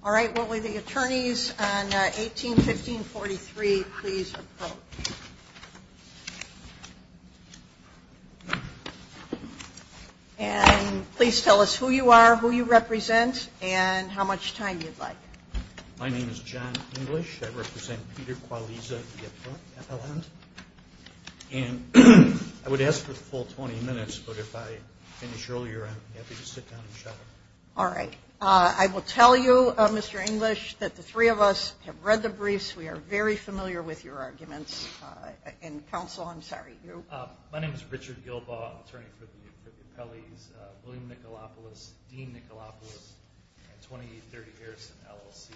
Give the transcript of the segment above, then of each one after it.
All right, will the attorneys on 18-1543 please approach. And please tell us who you are, who you represent, and how much time you'd like. My name is John English. I represent Peter Qualiza v. FLN. And I would ask for the full 20 minutes, but if I finish earlier, I'm happy to sit down and shut up. All right. I will tell you, Mr. English, that the three of us have read the briefs. We are very familiar with your arguments. And counsel, I'm sorry, you. My name is Richard Gilbaugh, attorney for the New Pelley's, William Nicolopulous, Dean Nicolopulous, and 2830 Harrison LLC.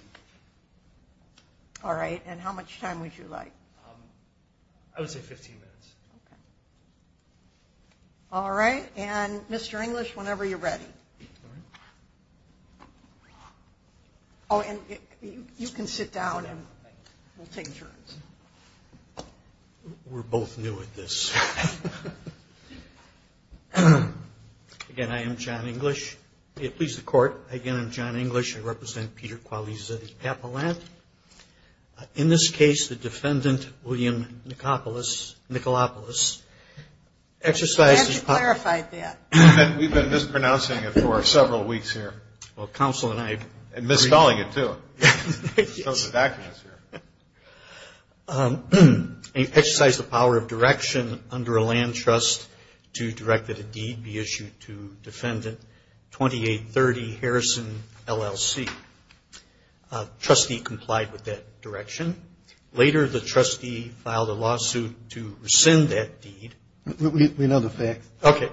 All right. And how much time would you like? I would say 15 minutes. All right. And Mr. English, whenever you're ready. Oh, and you can sit down and we'll take turns. We're both new at this. Again, I am John English. Please, the court. Again, I'm John English. I represent Peter Qualiza v. Appellant. In this case, the defendant, William Nicolopulous, exercised his power. We've been mispronouncing it for several weeks here. Well, counsel and I agree. We're calling it, too. It shows his acumen is here. He exercised the power of direction under a land trust to direct that a deed be issued to Defendant 2830 Harrison LLC. Trustee complied with that direction. Later, the trustee filed a lawsuit to rescind that deed. We know the facts. Okay.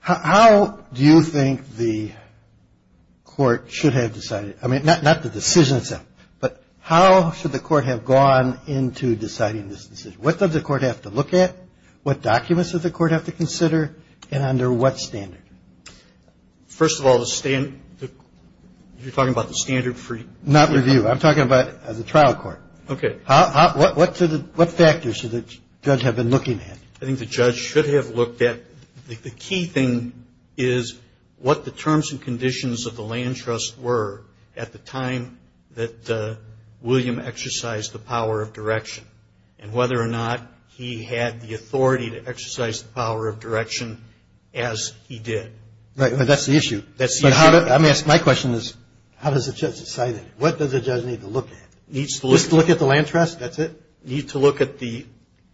How do you think the court should have decided? I mean, not the decision itself, but how should the court have gone into deciding this decision? What does the court have to look at? What documents does the court have to consider? And under what standard? First of all, you're talking about the standard for? Not review. I'm talking about the trial court. Okay. What factors should the judge have been looking at? I think the judge should have looked at the key thing is what the terms and conditions of the land trust were at the time that William exercised the power of direction, and whether or not he had the authority to exercise the power of direction as he did. Right. But that's the issue. That's the issue. Let me ask my question is, how does the judge decide? What does the judge need to look at? Needs to look at the land trust. That's it. Need to look at the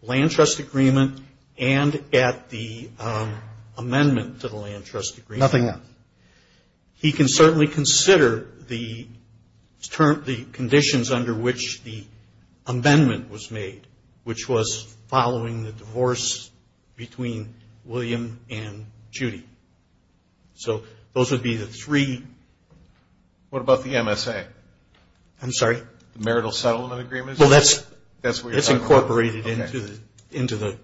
land trust agreement and at the amendment to the land trust agreement. Nothing else. He can certainly consider the conditions under which the amendment was made, which was following the divorce between William and Judy. So those would be the three. What about the MSA? I'm sorry? Marital Settlement Agreement? Well, that's incorporated into the...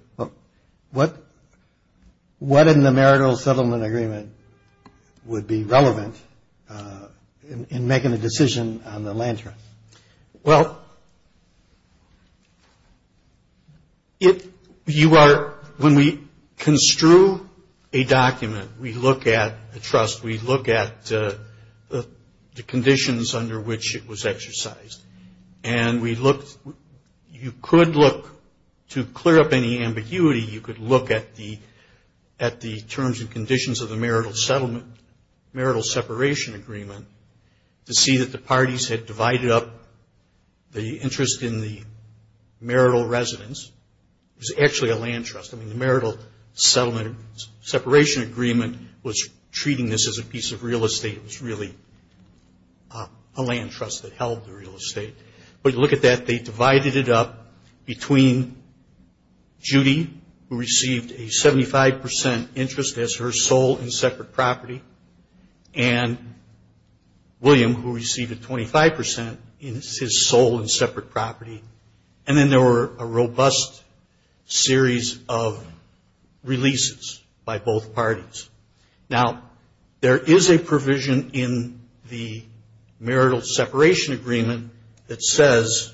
What in the marital settlement agreement would be relevant in making a decision on the land trust? Well, when we construe a document, we look at a trust, we look at the conditions under which it was exercised, and you could look to clear up any ambiguity. You could look at the terms and conditions of the marital separation agreement to see that the parties had divided up the interest in the marital residence. It was actually a land trust. I mean, the marital settlement separation agreement was treating this as a piece of real estate. It was really a land trust that held the real estate. But you look at that, they divided it up between Judy, who received a 75% interest as her sole and separate property, and William, who received a 25% as his sole and separate property. And then there were a robust series of releases by both parties. Now, there is a provision in the marital separation agreement that says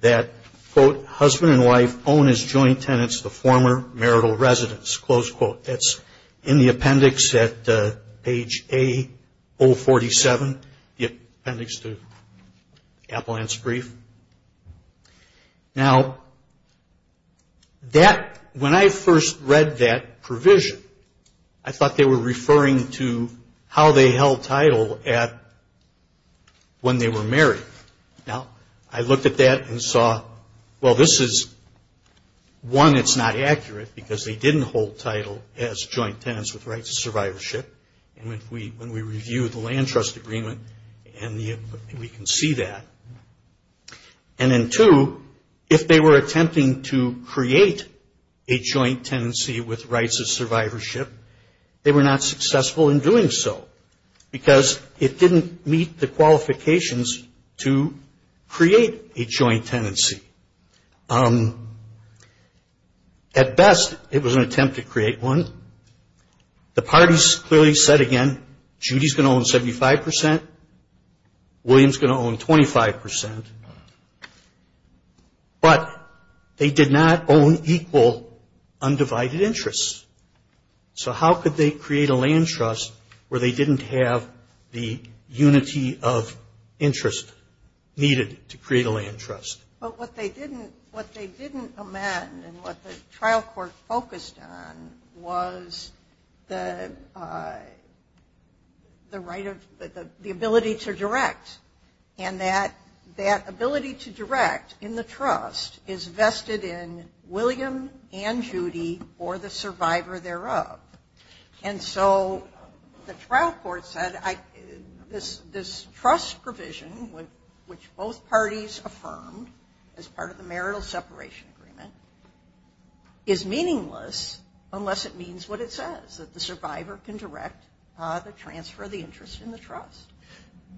that, quote, husband and wife own as joint tenants the former marital residence, close quote. That's in the appendix at page A-047, the appendix to Appellant's brief. Now, when I first read that provision, I thought they were referring to how they held title at when they were married. Now, I looked at that and saw, well, this is, one, it's not accurate, because they didn't hold title as joint tenants with rights of survivorship. And when we review the land trust agreement, we can see that. And then, two, if they were attempting to create a joint tenancy with rights of survivorship, they were not successful in doing so, because it didn't meet the qualifications to create a joint tenancy. At best, it was an attempt to create one. The parties clearly said, again, Judy's going to own 75 percent. William's going to own 25 percent. But they did not own equal undivided interests. So how could they create a land trust where they didn't have the unity of interest needed to create a land trust? But what they didn't amend and what the trial court focused on was the right of, the ability to direct. And that ability to direct in the trust is vested in William and Judy or the survivor thereof. And so the trial court said, this trust provision, which both parties affirmed, as part of the marital separation agreement, is meaningless unless it means what it says, that the survivor can direct the transfer of the interest in the trust.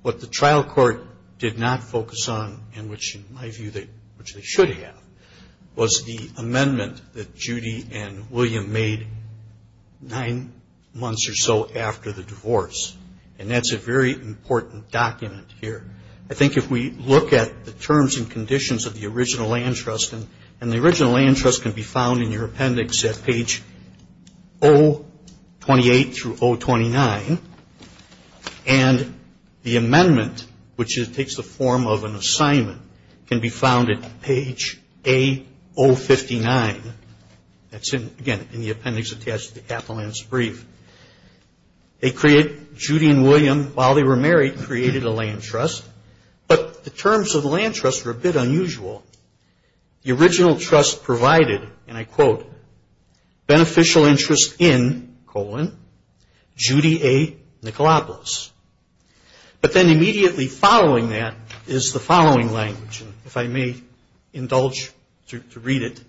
What the trial court did not focus on, and which, in my view, they should have, was the amendment that Judy and William made nine months or so after the divorce. And that's a very important document here. I think if we look at the terms and conditions of the original land trust, and the original land trust can be found in your appendix at page 028 through 029. And the amendment, which takes the form of an assignment, can be found at page A059. That's in, again, in the appendix attached to the capital lands brief. They create, Judy and William, while they were married, created a land trust. But the terms of the land trust were a bit unusual. The original trust provided, and I quote, beneficial interest in, colon, Judy A. Nicolopoulos. But then immediately following that is the following language. And if I may indulge to read it.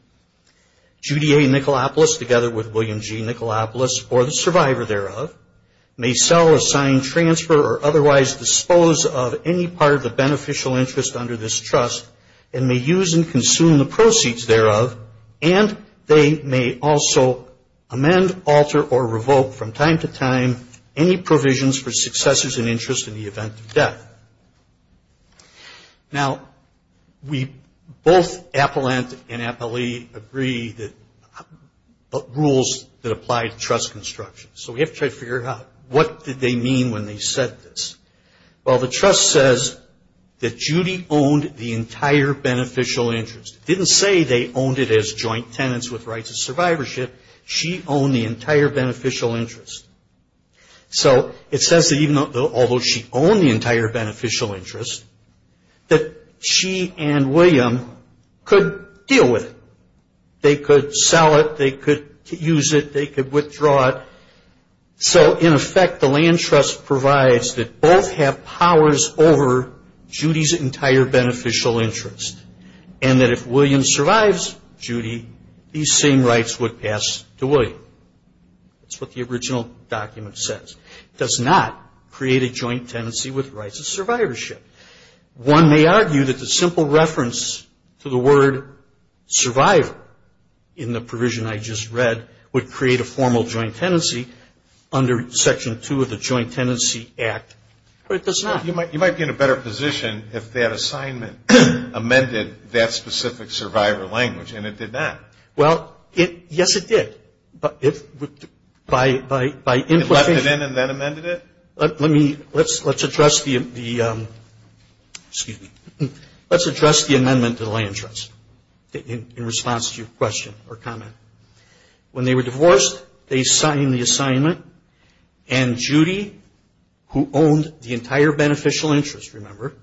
Judy A. Nicolopoulos, together with William G. Nicolopoulos, or the survivor thereof, may sell, assign, transfer, or otherwise dispose of any part of the beneficial interest under this trust, and may use and consume the proceeds thereof. And they may also amend, alter, or revoke from time to time any provisions for successors and interest in the event of death. Now, we both, Appellant and Appellee, agree that rules that apply to trust construction. So we have to try to figure out what did they mean when they said this. Well, the trust says that Judy owned the entire beneficial interest. It didn't say they owned it as joint tenants with rights of survivorship. She owned the entire beneficial interest. So it says that even though, although she owned the entire beneficial interest, that she and William could deal with it. They could sell it. They could use it. They could withdraw it. So, in effect, the land trust provides that both have powers over Judy's entire beneficial interest. And that if William survives Judy, these same rights would pass to William. That's what the original document says. It does not create a joint tenancy with rights of survivorship. One may argue that the simple reference to the word survivor in the provision I just read would create a formal joint tenancy under Section 2 of the Joint Tenancy Act. But it does not. You might be in a better position if that assignment amended that specific survivor language. And it did not. Well, it, yes it did. But it, by implication. It let it in and then amended it? Let me, let's address the, excuse me, let's address the amendment to the land trust in response to your question or comment. When they were divorced, they signed the assignment. And Judy, who owned the entire beneficial interest, remember,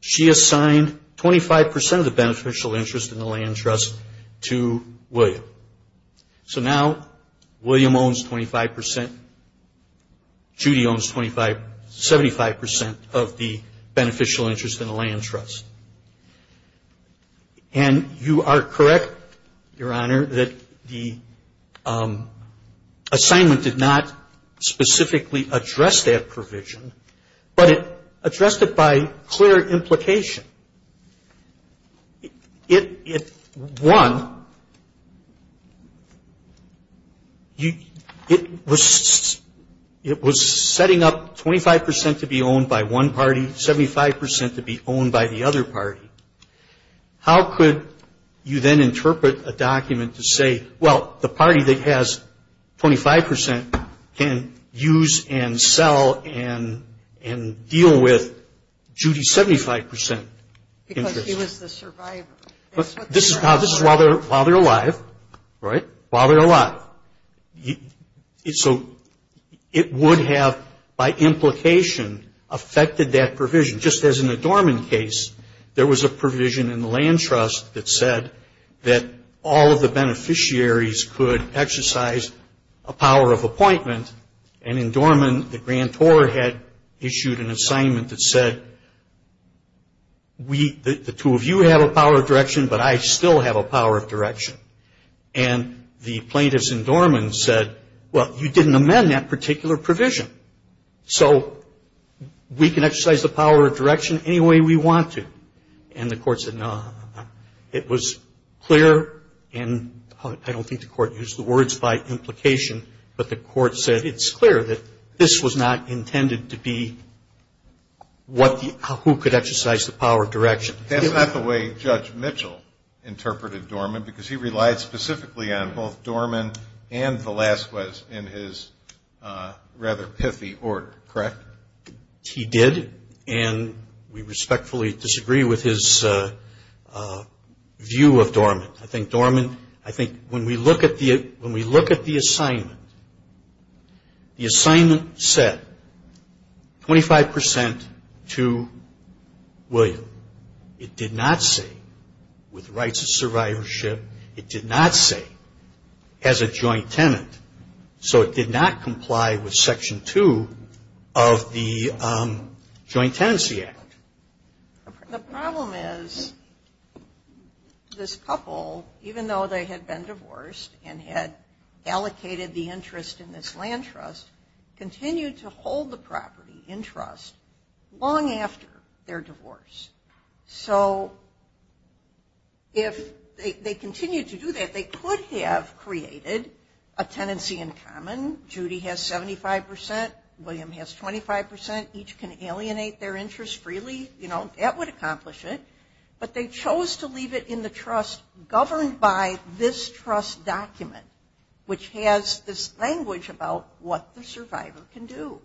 she assigned 25% of the beneficial interest in the land trust to William. So now, William owns 25%. Judy owns 25, 75% of the beneficial interest in the land trust. And you are correct, Your Honor, that the assignment did not specifically address that provision. But it addressed it by clear implication. It, one, it was setting up 25% to be owned by one party, 75% to be owned by the other party. How could you then interpret a document to say, well, the party that has 25% can use and sell and deal with Judy's 75% interest? Because he was the survivor. This is while they're alive, right? While they're alive. So it would have, by implication, affected that provision. Just as in the Dorman case, there was a provision in the land trust that said that all of the beneficiaries could exercise a power of appointment. And in Dorman, the grantor had issued an assignment that said, the two of you have a power of direction, but I still have a power of direction. And the plaintiffs in Dorman said, well, you didn't amend that particular provision. So we can exercise the power of direction any way we want to. And the court said, no. It was clear, and I don't think the court used the words by implication, but the court said it's clear that this was not intended to be who could exercise the power of direction. But that's not the way Judge Mitchell interpreted Dorman, because he relied specifically on both Dorman and Velazquez in his rather pithy order, correct? He did, and we respectfully disagree with his view of Dorman. I think Dorman, I think when we look at the assignment, the assignment said 25% to William. It did not say, with rights of survivorship, it did not say as a joint tenant. So it did not comply with Section 2 of the Joint Tenancy Act. The problem is this couple, even though they had been divorced and had allocated the interest in this land trust, continued to hold the property in trust long after their divorce. So if they continued to do that, they could have created a tenancy in common. Judy has 75%. William has 25%. Each can alienate their interest freely. You know, that would accomplish it. But they chose to leave it in the trust governed by this trust document, which has this language about what the survivor can do.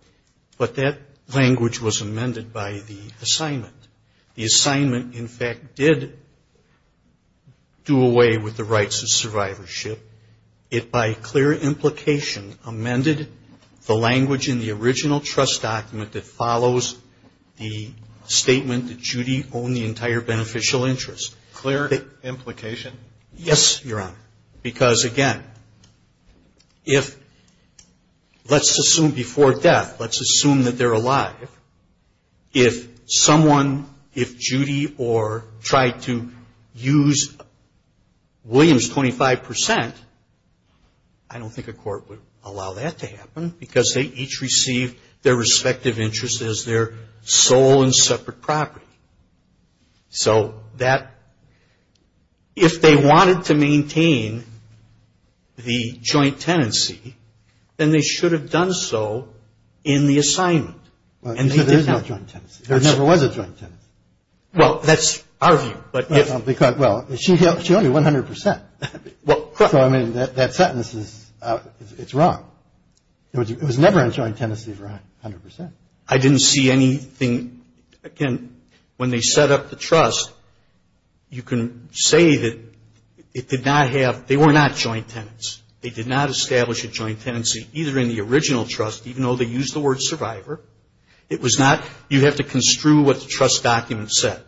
But that language was amended by the assignment. The assignment, in fact, did do away with the rights of survivorship. It, by clear implication, amended the language in the original trust document that follows the statement that Judy owned the entire beneficial interest. Clear implication? Yes, Your Honor. Because again, if, let's assume before death, let's assume that they're alive. If someone, if Judy or tried to use William's 25%, I don't think a court would allow that to happen, because they each received their respective interest as their sole and separate property. So that, if they wanted to maintain the joint tenancy, then they should have done so in the assignment. Well, there is no joint tenancy. There never was a joint tenancy. Well, that's our view. But, because, well, she only 100%. Well, correct. So, I mean, that sentence is, it's wrong. It was never in joint tenancy for 100%. I didn't see anything. Again, when they set up the trust, you can say that it did not have, they were not joint tenants. They did not establish a joint tenancy, either in the original trust, even though they used the word survivor. It was not, you have to construe what the trust document said.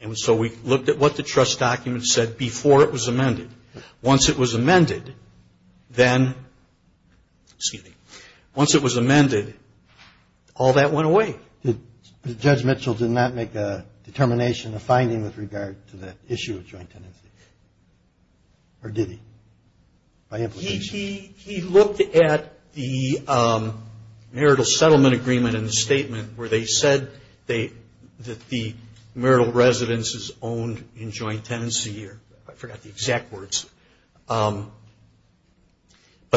And so we looked at what the trust document said before it was amended. Once it was amended, then, excuse me, once it was amended, all that went away. Did, Judge Mitchell did not make a determination, a finding with regard to that issue of joint tenancy? Or did he? He looked at the marital settlement agreement in the statement where they said that the marital residence is owned in joint tenancy. I forgot the exact words. But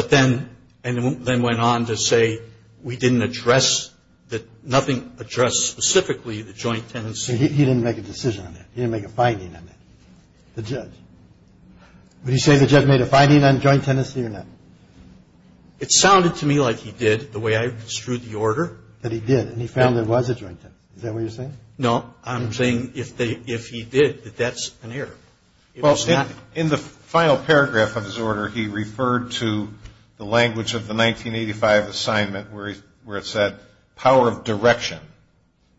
then, and then went on to say we didn't address, that nothing addressed specifically the joint tenancy. He didn't make a decision on that. He didn't make a finding on that. The judge. Would you say the judge made a finding on joint tenancy or not? It sounded to me like he did, the way I construed the order. That he did, and he found there was a joint tenancy. Is that what you're saying? No, I'm saying if he did, that that's an error. Well, in the final paragraph of his order, he referred to the language of the 1985 assignment, where it said power of direction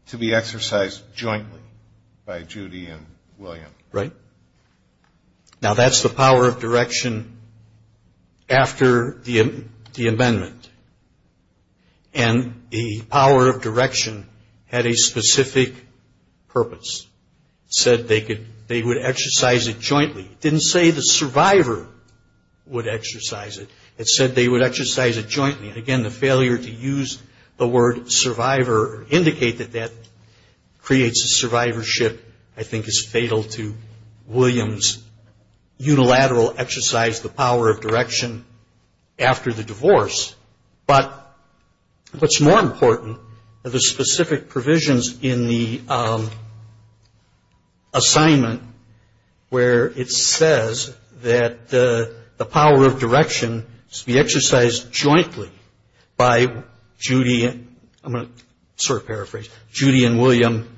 to be exercised jointly by Judy and William. Right? Now, that's the power of direction after the amendment. And the power of direction had a specific purpose. It said they would exercise it jointly. It didn't say the survivor would exercise it. It said they would exercise it jointly. Again, the failure to use the word survivor, indicate that that creates a survivorship, I think is fatal to William's unilateral exercise, the power of direction after the divorce. But what's more important, the specific provisions in the assignment, where it says that the power of direction should be exercised jointly by Judy and, I'm going to paraphrase, Judy and William.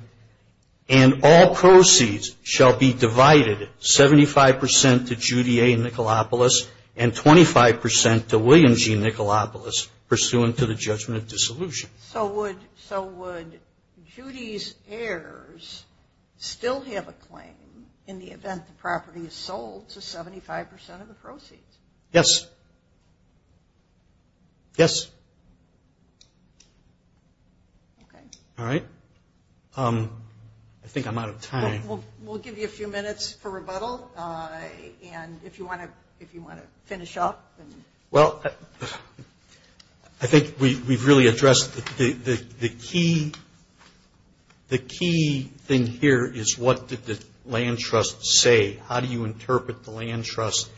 And all proceeds shall be divided 75% to Judy A. Nicolopoulos, and 25% to William G. Nicolopoulos, pursuant to the judgment of dissolution. So would Judy's heirs still have a claim in the event the property is sold to 75% of the proceeds? Yes. Yes. All right. I think I'm out of time. We'll give you a few minutes for rebuttal, and if you want to finish up. Well, I think we've really addressed the key thing here is what did the land trust say? How do you interpret the land trust?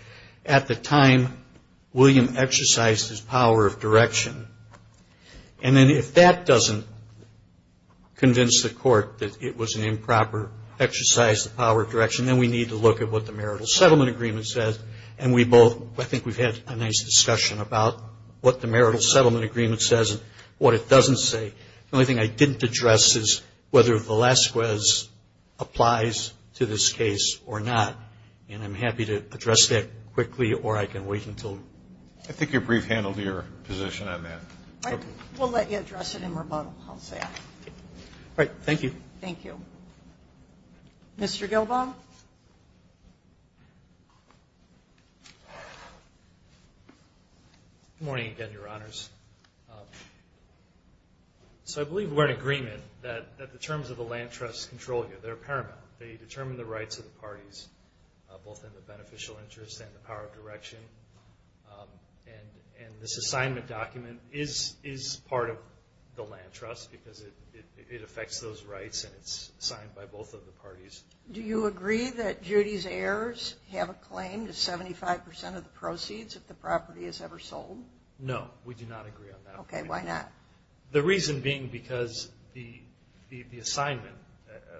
At the time, William exercised his power of direction. And then if that doesn't convince the court that it was an improper exercise, the power of direction, then we need to look at what the marital settlement agreement says. And we both, I think we've had a nice discussion about what the marital settlement agreement says and what it doesn't say. The only thing I didn't address is whether Velasquez applies to this case or not. And I'm happy to address that quickly, or I can wait until. I think you're brief handled your position on that. Okay. We'll let you address it in rebuttal. I'll say that. All right. Thank you. Thank you. Mr. Gilbaugh? Good morning again, Your Honors. So I believe we're in agreement that the terms of the land trust control you. They're paramount. They determine the rights of the parties, both in the beneficial interest and the power of direction. And this assignment document is part of the land trust because it affects those rights and it's signed by both of the parties. Do you agree that Judy's heirs have a claim to 75% of the proceeds if the property is ever sold? No, we do not agree on that. Okay, why not? The reason being because the assignment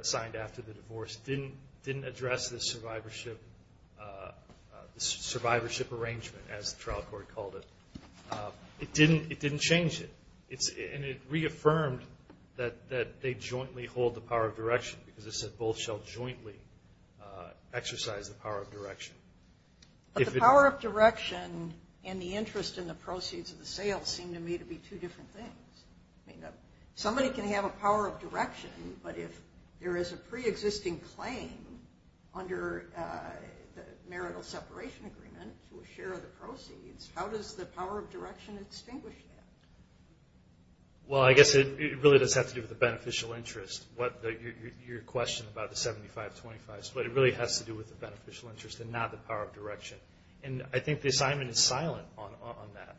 signed after the divorce didn't address the survivorship arrangement, as the trial court called it. It didn't change it. And it reaffirmed that they jointly hold the power of direction because it said both shall jointly exercise the power of direction. But the power of direction and the interest in the proceeds of the sale seem to me to be two different things. Somebody can have a power of direction, but if there is a preexisting claim under the marital separation agreement to a share of the proceeds, how does the power of direction extinguish that? Well, I guess it really does have to do with the beneficial interest. Your question about the 75-25 split, it really has to do with the beneficial interest and not the power of direction. And I think the assignment is silent on that.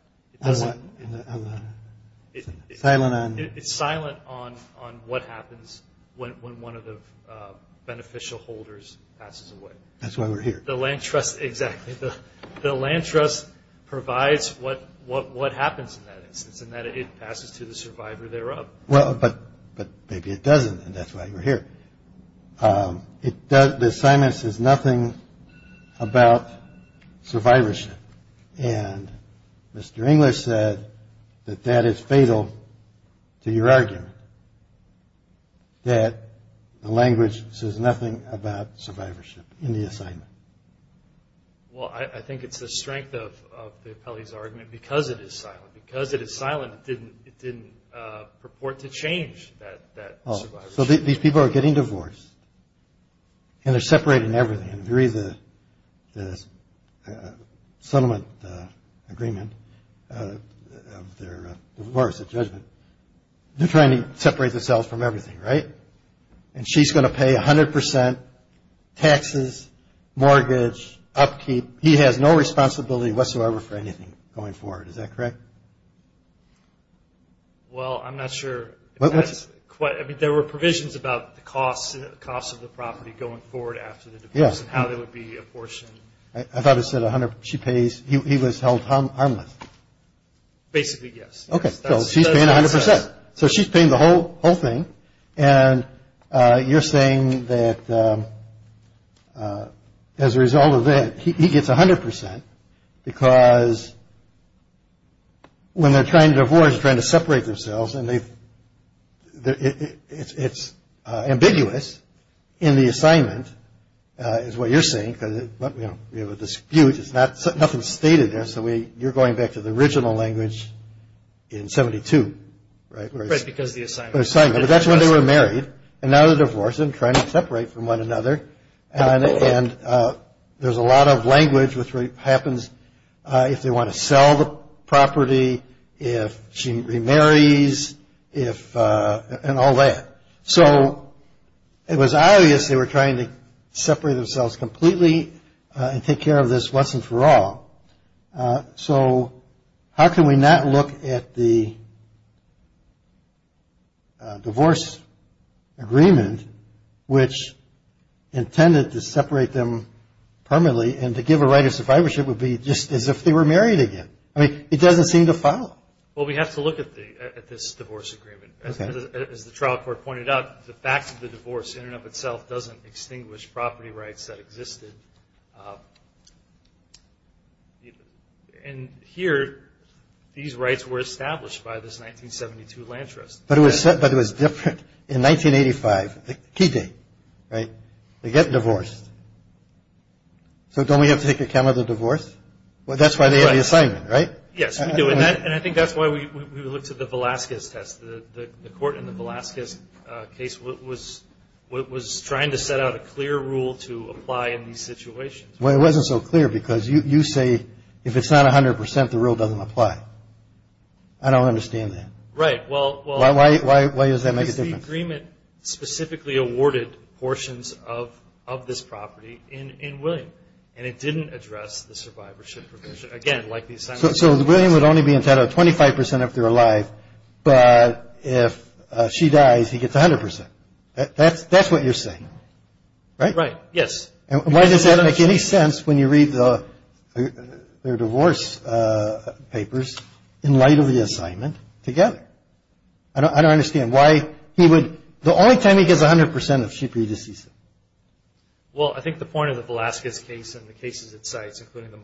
It's silent on what happens when one of the beneficial holders passes away. That's why we're here. The land trust provides what happens in that instance, and that it passes to the survivor thereof. Well, but maybe it doesn't, and that's why we're here. The assignment says nothing about survivorship, and Mr. English said that that is fatal to your argument, that the language says nothing about survivorship in the assignment. Well, I think it's the strength of the appellee's argument because it is silent. Because it is silent, it didn't purport to change that survivorship. So these people are getting divorced, and they're separating everything. And if you read the settlement agreement of their divorce, their judgment, they're trying to separate themselves from everything, right? And she's going to pay 100% taxes, mortgage, upkeep. He has no responsibility whatsoever for anything going forward. Is that correct? Well, I'm not sure. I mean, there were provisions about the costs of the property going forward after the divorce, and how there would be a portion. I thought it said 100, she pays, he was held harmless. Basically, yes. Okay, so she's paying 100%. So she's paying the whole thing, and you're saying that as a result of that, he gets 100% because when they're trying to divorce, they're trying to separate themselves, and it's ambiguous in the assignment, is what you're saying, because we have a dispute. It's nothing stated there, so you're going back to the original language in 72, right? Right, because of the assignment. The assignment, but that's when they were married. And now they're divorcing, trying to separate from one another. And there's a lot of language which happens if they want to sell the property, if she remarries, and all that. So it was obvious they were trying to separate themselves completely and take care of this once and for all. So how can we not look at the divorce agreement, which intended to separate them permanently and to give a right of survivorship would be just as if they were married again. I mean, it doesn't seem to follow. Well, we have to look at this divorce agreement. As the trial court pointed out, the fact of the divorce in and of itself doesn't extinguish property rights that existed. And here, these rights were established by this 1972 land trust. But it was different in 1985, the key date, right? They get divorced. So don't we have to take account of the divorce? Well, that's why they have the assignment, right? Yes, we do. And I think that's why we looked at the Velazquez test. The court in the Velazquez case was trying to set out a clear rule to apply in these situations. Well, it wasn't so clear because you say if it's not 100%, the rule doesn't apply. I don't understand that. Right, well- Why does that make a difference? Because the agreement specifically awarded portions of this property in William. And it didn't address the survivorship provision. Again, like the assignment- So William would only be entitled to 25% if they're alive, but if she dies, he gets 100%. That's what you're saying, right? Right, yes. And why does that make any sense when you read their divorce papers in light of the assignment together? I don't understand why he would, the only time he gets 100% is if she pre-deceases. Well, I think the point of the Velazquez case and the cases it cites, including the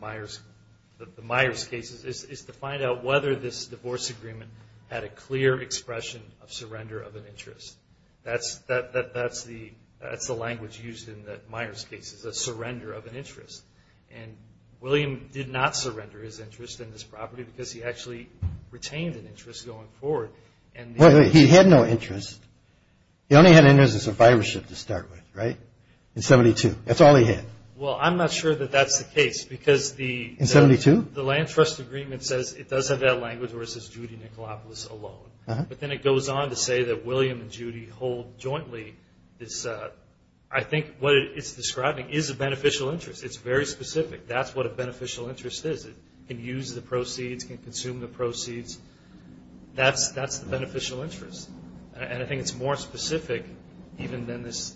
Myers cases, is to find out whether this divorce agreement had a clear expression of surrender of an interest. That's the language used in the Myers cases, a surrender of an interest. And William did not surrender his interest in this property because he actually retained an interest going forward. He had no interest. He only had an interest in survivorship to start with, right? In 72. That's all he had. Well, I'm not sure that that's the case because the- In 72? The land trust agreement says it does have that language where it says Judy Nicolopoulos alone. But then it goes on to say that William and Judy hold jointly this, I think what it's describing is a beneficial interest. It's very specific. That's what a beneficial interest is. It can use the proceeds, can consume the proceeds. That's the beneficial interest. And I think it's more specific even than this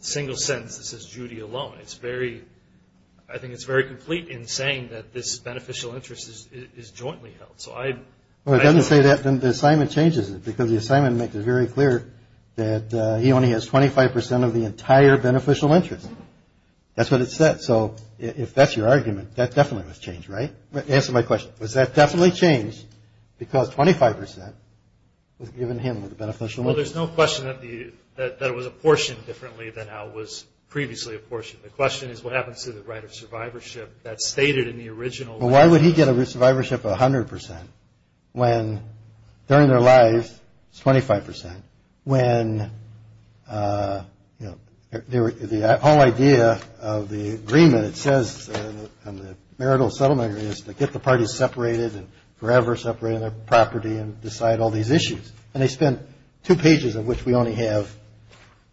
single sentence that says Judy alone. It's very, I think it's very complete in saying that this beneficial interest is jointly held. So I- Well, it doesn't say that. The assignment changes it because the assignment makes it very clear that he only has 25% of the entire beneficial interest. That's what it said. So if that's your argument, that definitely was changed, right? Answer my question. Was that definitely changed because 25% was given him the beneficial interest? Well, there's no question that it was apportioned differently than how it was previously apportioned. The question is what happens to the right of survivorship that's stated in the original- Well, why would he get a survivorship of 100% when during their lives it's 25%? When, you know, the whole idea of the agreement, it says in the marital settlement, is to get the parties separated and forever separate their property and decide all these issues. And they spent two pages of which we only have,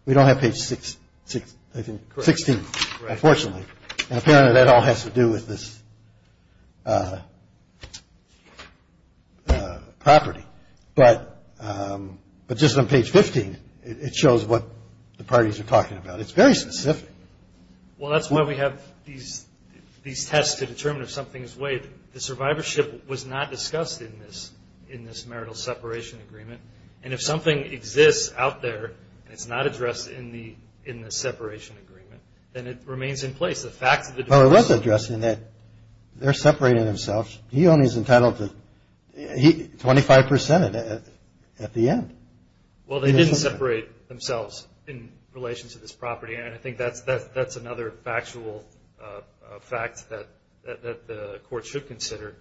we don't have page 16, unfortunately. And apparently that all has to do with this property. But just on page 15, it shows what the parties are talking about. It's very specific. Well, that's why we have these tests to determine if something is waived. The survivorship was not discussed in this marital separation agreement. And if something exists out there and it's not addressed in the separation agreement, then it remains in place. Well, it was addressed in that they're separating themselves. He only is entitled to 25% at the end. Well, they didn't separate themselves in relation to this property. And I think that's another factual fact that the court should consider.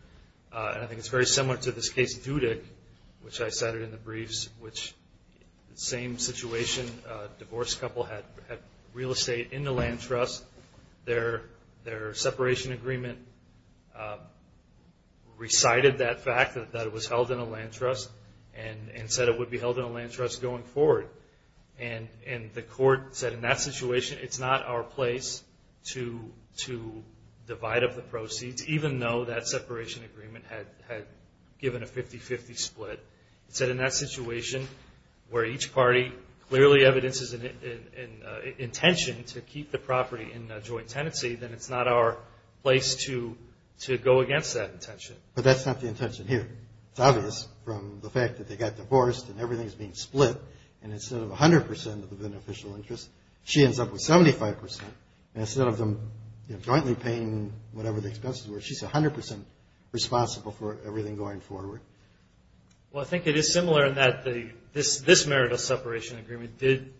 And I think it's very similar to this case of Dudick, which I cited in the briefs, which the same situation, a divorced couple had real estate in the land trust. Their separation agreement recited that fact, that it was held in a land trust, and said it would be held in a land trust going forward. And the court said in that situation, it's not our place to divide up the proceeds, even though that separation agreement had given a 50-50 split. It said in that situation, where each party clearly evidences an intention to keep the property in a joint tenancy, then it's not our place to go against that intention. But that's not the intention here. It's obvious from the fact that they got divorced and everything's being split. And instead of 100% of the beneficial interest, she ends up with 75%. And instead of them jointly paying whatever the expenses were, she's 100% responsible for everything going forward. Well, I think it is similar in that this marital separation agreement did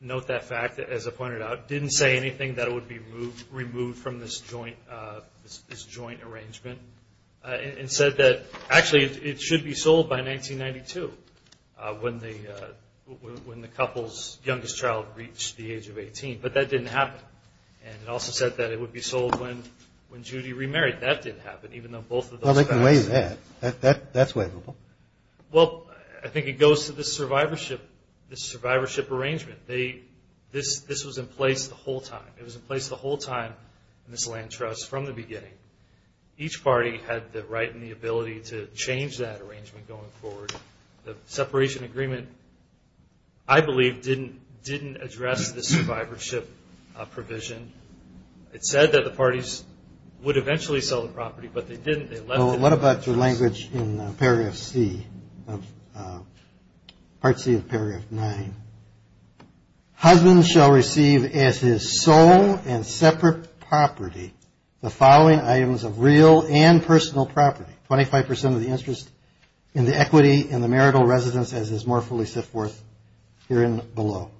note that fact, as I pointed out, didn't say anything that it would be removed from this joint arrangement, and said that actually it should be sold by 1992, when the couple's youngest child reached the age of 18. But that didn't happen. And it also said that it would be sold when Judy remarried. That didn't happen, even though both of those facts... Well, they can waive that. That's waivable. Well, I think it goes to this survivorship arrangement. This was in place the whole time. It was in place the whole time in this land trust, from the beginning. Each party had the right and the ability to change that arrangement going forward. The separation agreement, I believe, didn't address the survivorship provision. It said that the parties would eventually sell the property, but they didn't. What about your language in paragraph C, part C of paragraph 9? Husbands shall receive as his sole and separate property the following items of real and personal property. Twenty-five percent of the interest in the equity in the marital residence as is more fully set forth herein below.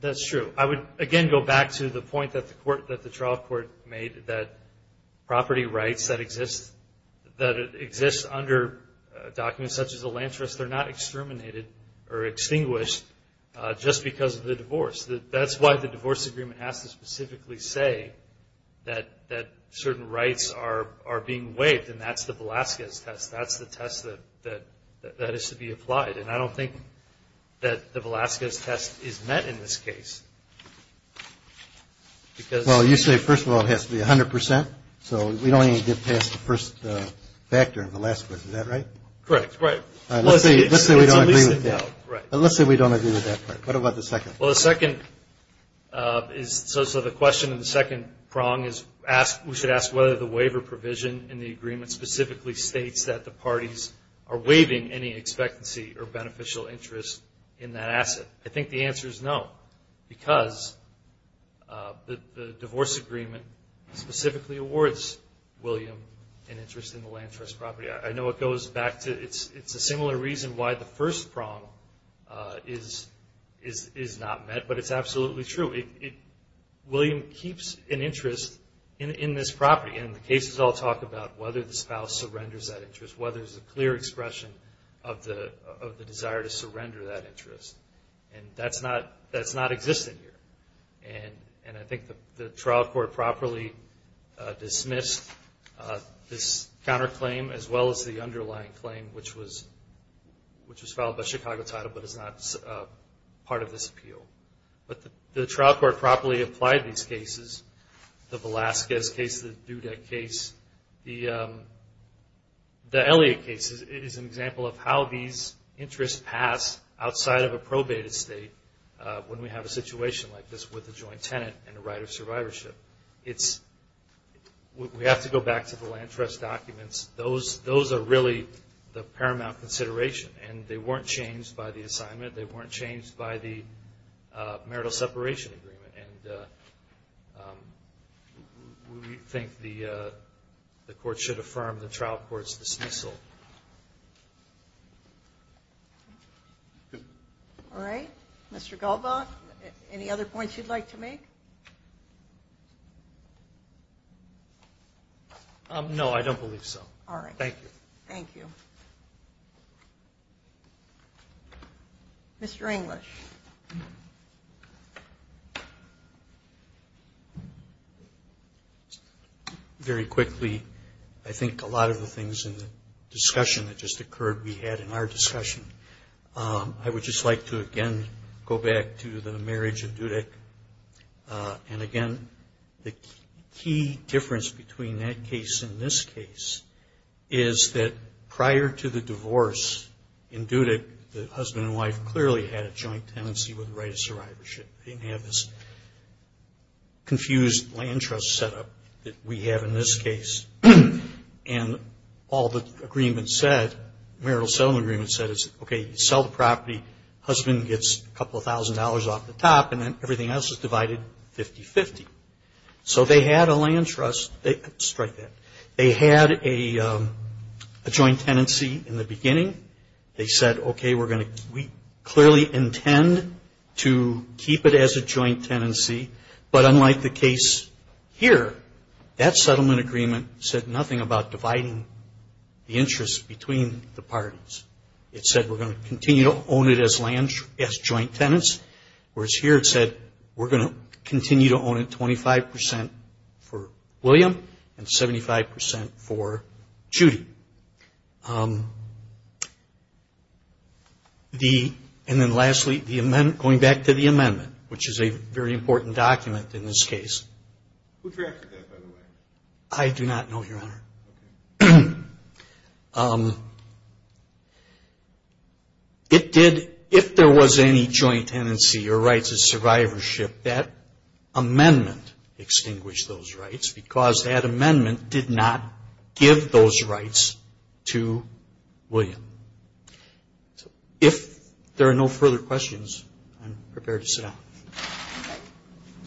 That's true. I would again go back to the point that the trial court made that property rights that exist under documents such as a land trust, they're not exterminated or extinguished just because of the divorce. That's why the divorce agreement has to specifically say that certain rights are being waived, and that's the Velazquez test. That's the test that has to be applied. I don't think that the Velazquez test is met in this case. Well, you say, first of all, it has to be 100 percent, so we don't even get past the first factor in Velazquez, is that right? Correct. Let's say we don't agree with that. Let's say we don't agree with that part. What about the second? Well, the second is, so the question in the second prong is we should ask whether the waiver provision in the agreement specifically states that the parties are waiving any expectancy or beneficial interest in that asset. I think the answer is no, because the divorce agreement specifically awards William an interest in the land trust property. I know it goes back to, it's a similar reason why the first prong is not met, but it's absolutely true. William keeps an interest in this property, and the cases all talk about whether the spouse surrenders that interest, whether there's a clear expression of the desire to surrender that interest. And that's not existing here. And I think the trial court properly dismissed this counterclaim, as well as the underlying claim, which was filed by Chicago Title, but is not part of this appeal. But the trial court properly applied these cases. The Velazquez case, the Dudek case, the Elliott case is an example of how these interests pass outside of a probated state when we have a situation like this with a joint tenant and a right of survivorship. We have to go back to the land trust documents. Those are really the paramount consideration. And they weren't changed by the assignment. They weren't changed by the marital separation agreement. And we think the court should affirm the trial court's dismissal. All right. Mr. Galbaugh, any other points you'd like to make? No, I don't believe so. All right. Thank you. Thank you. Mr. English. Very quickly, I think a lot of the things in the discussion that just occurred we had in our discussion. I would just like to again go back to the marriage of Dudek. And again, the key difference between that case and this case is that prior to the divorce in Dudek, the husband and wife clearly had a joint tenancy with a right of survivorship. They didn't have this confused land trust setup that we have in this case. And all the agreements said, marital settlement agreements said, okay, you sell the property, husband gets a couple of thousand dollars off the top and then everything else is divided 50-50. So they had a land trust. Strike that. They had a joint tenancy in the beginning. They said, okay, we clearly intend to keep it as a joint tenancy. But unlike the case here, that settlement agreement said nothing about dividing the interest between the parties. It said we're going to continue to own it as joint tenants. Whereas here it said we're going to continue to own it 25% for William and 75% for Judy. And then lastly, going back to the amendment, which is a very important document in this case. Who drafted that, by the way? I do not know, Your Honor. Okay. It did, if there was any joint tenancy or rights of survivorship, that amendment extinguished those rights because that amendment did not give those rights to William. If there are no further questions, I'm prepared to sit down. Okay.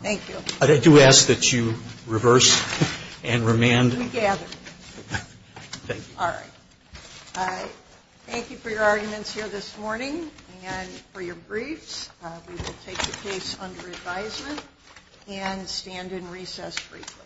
Thank you. I do ask that you reverse and remand. We gather. Thank you. All right. Thank you for your arguments here this morning and for your briefs. We will take the case under advisement and stand in recess briefly.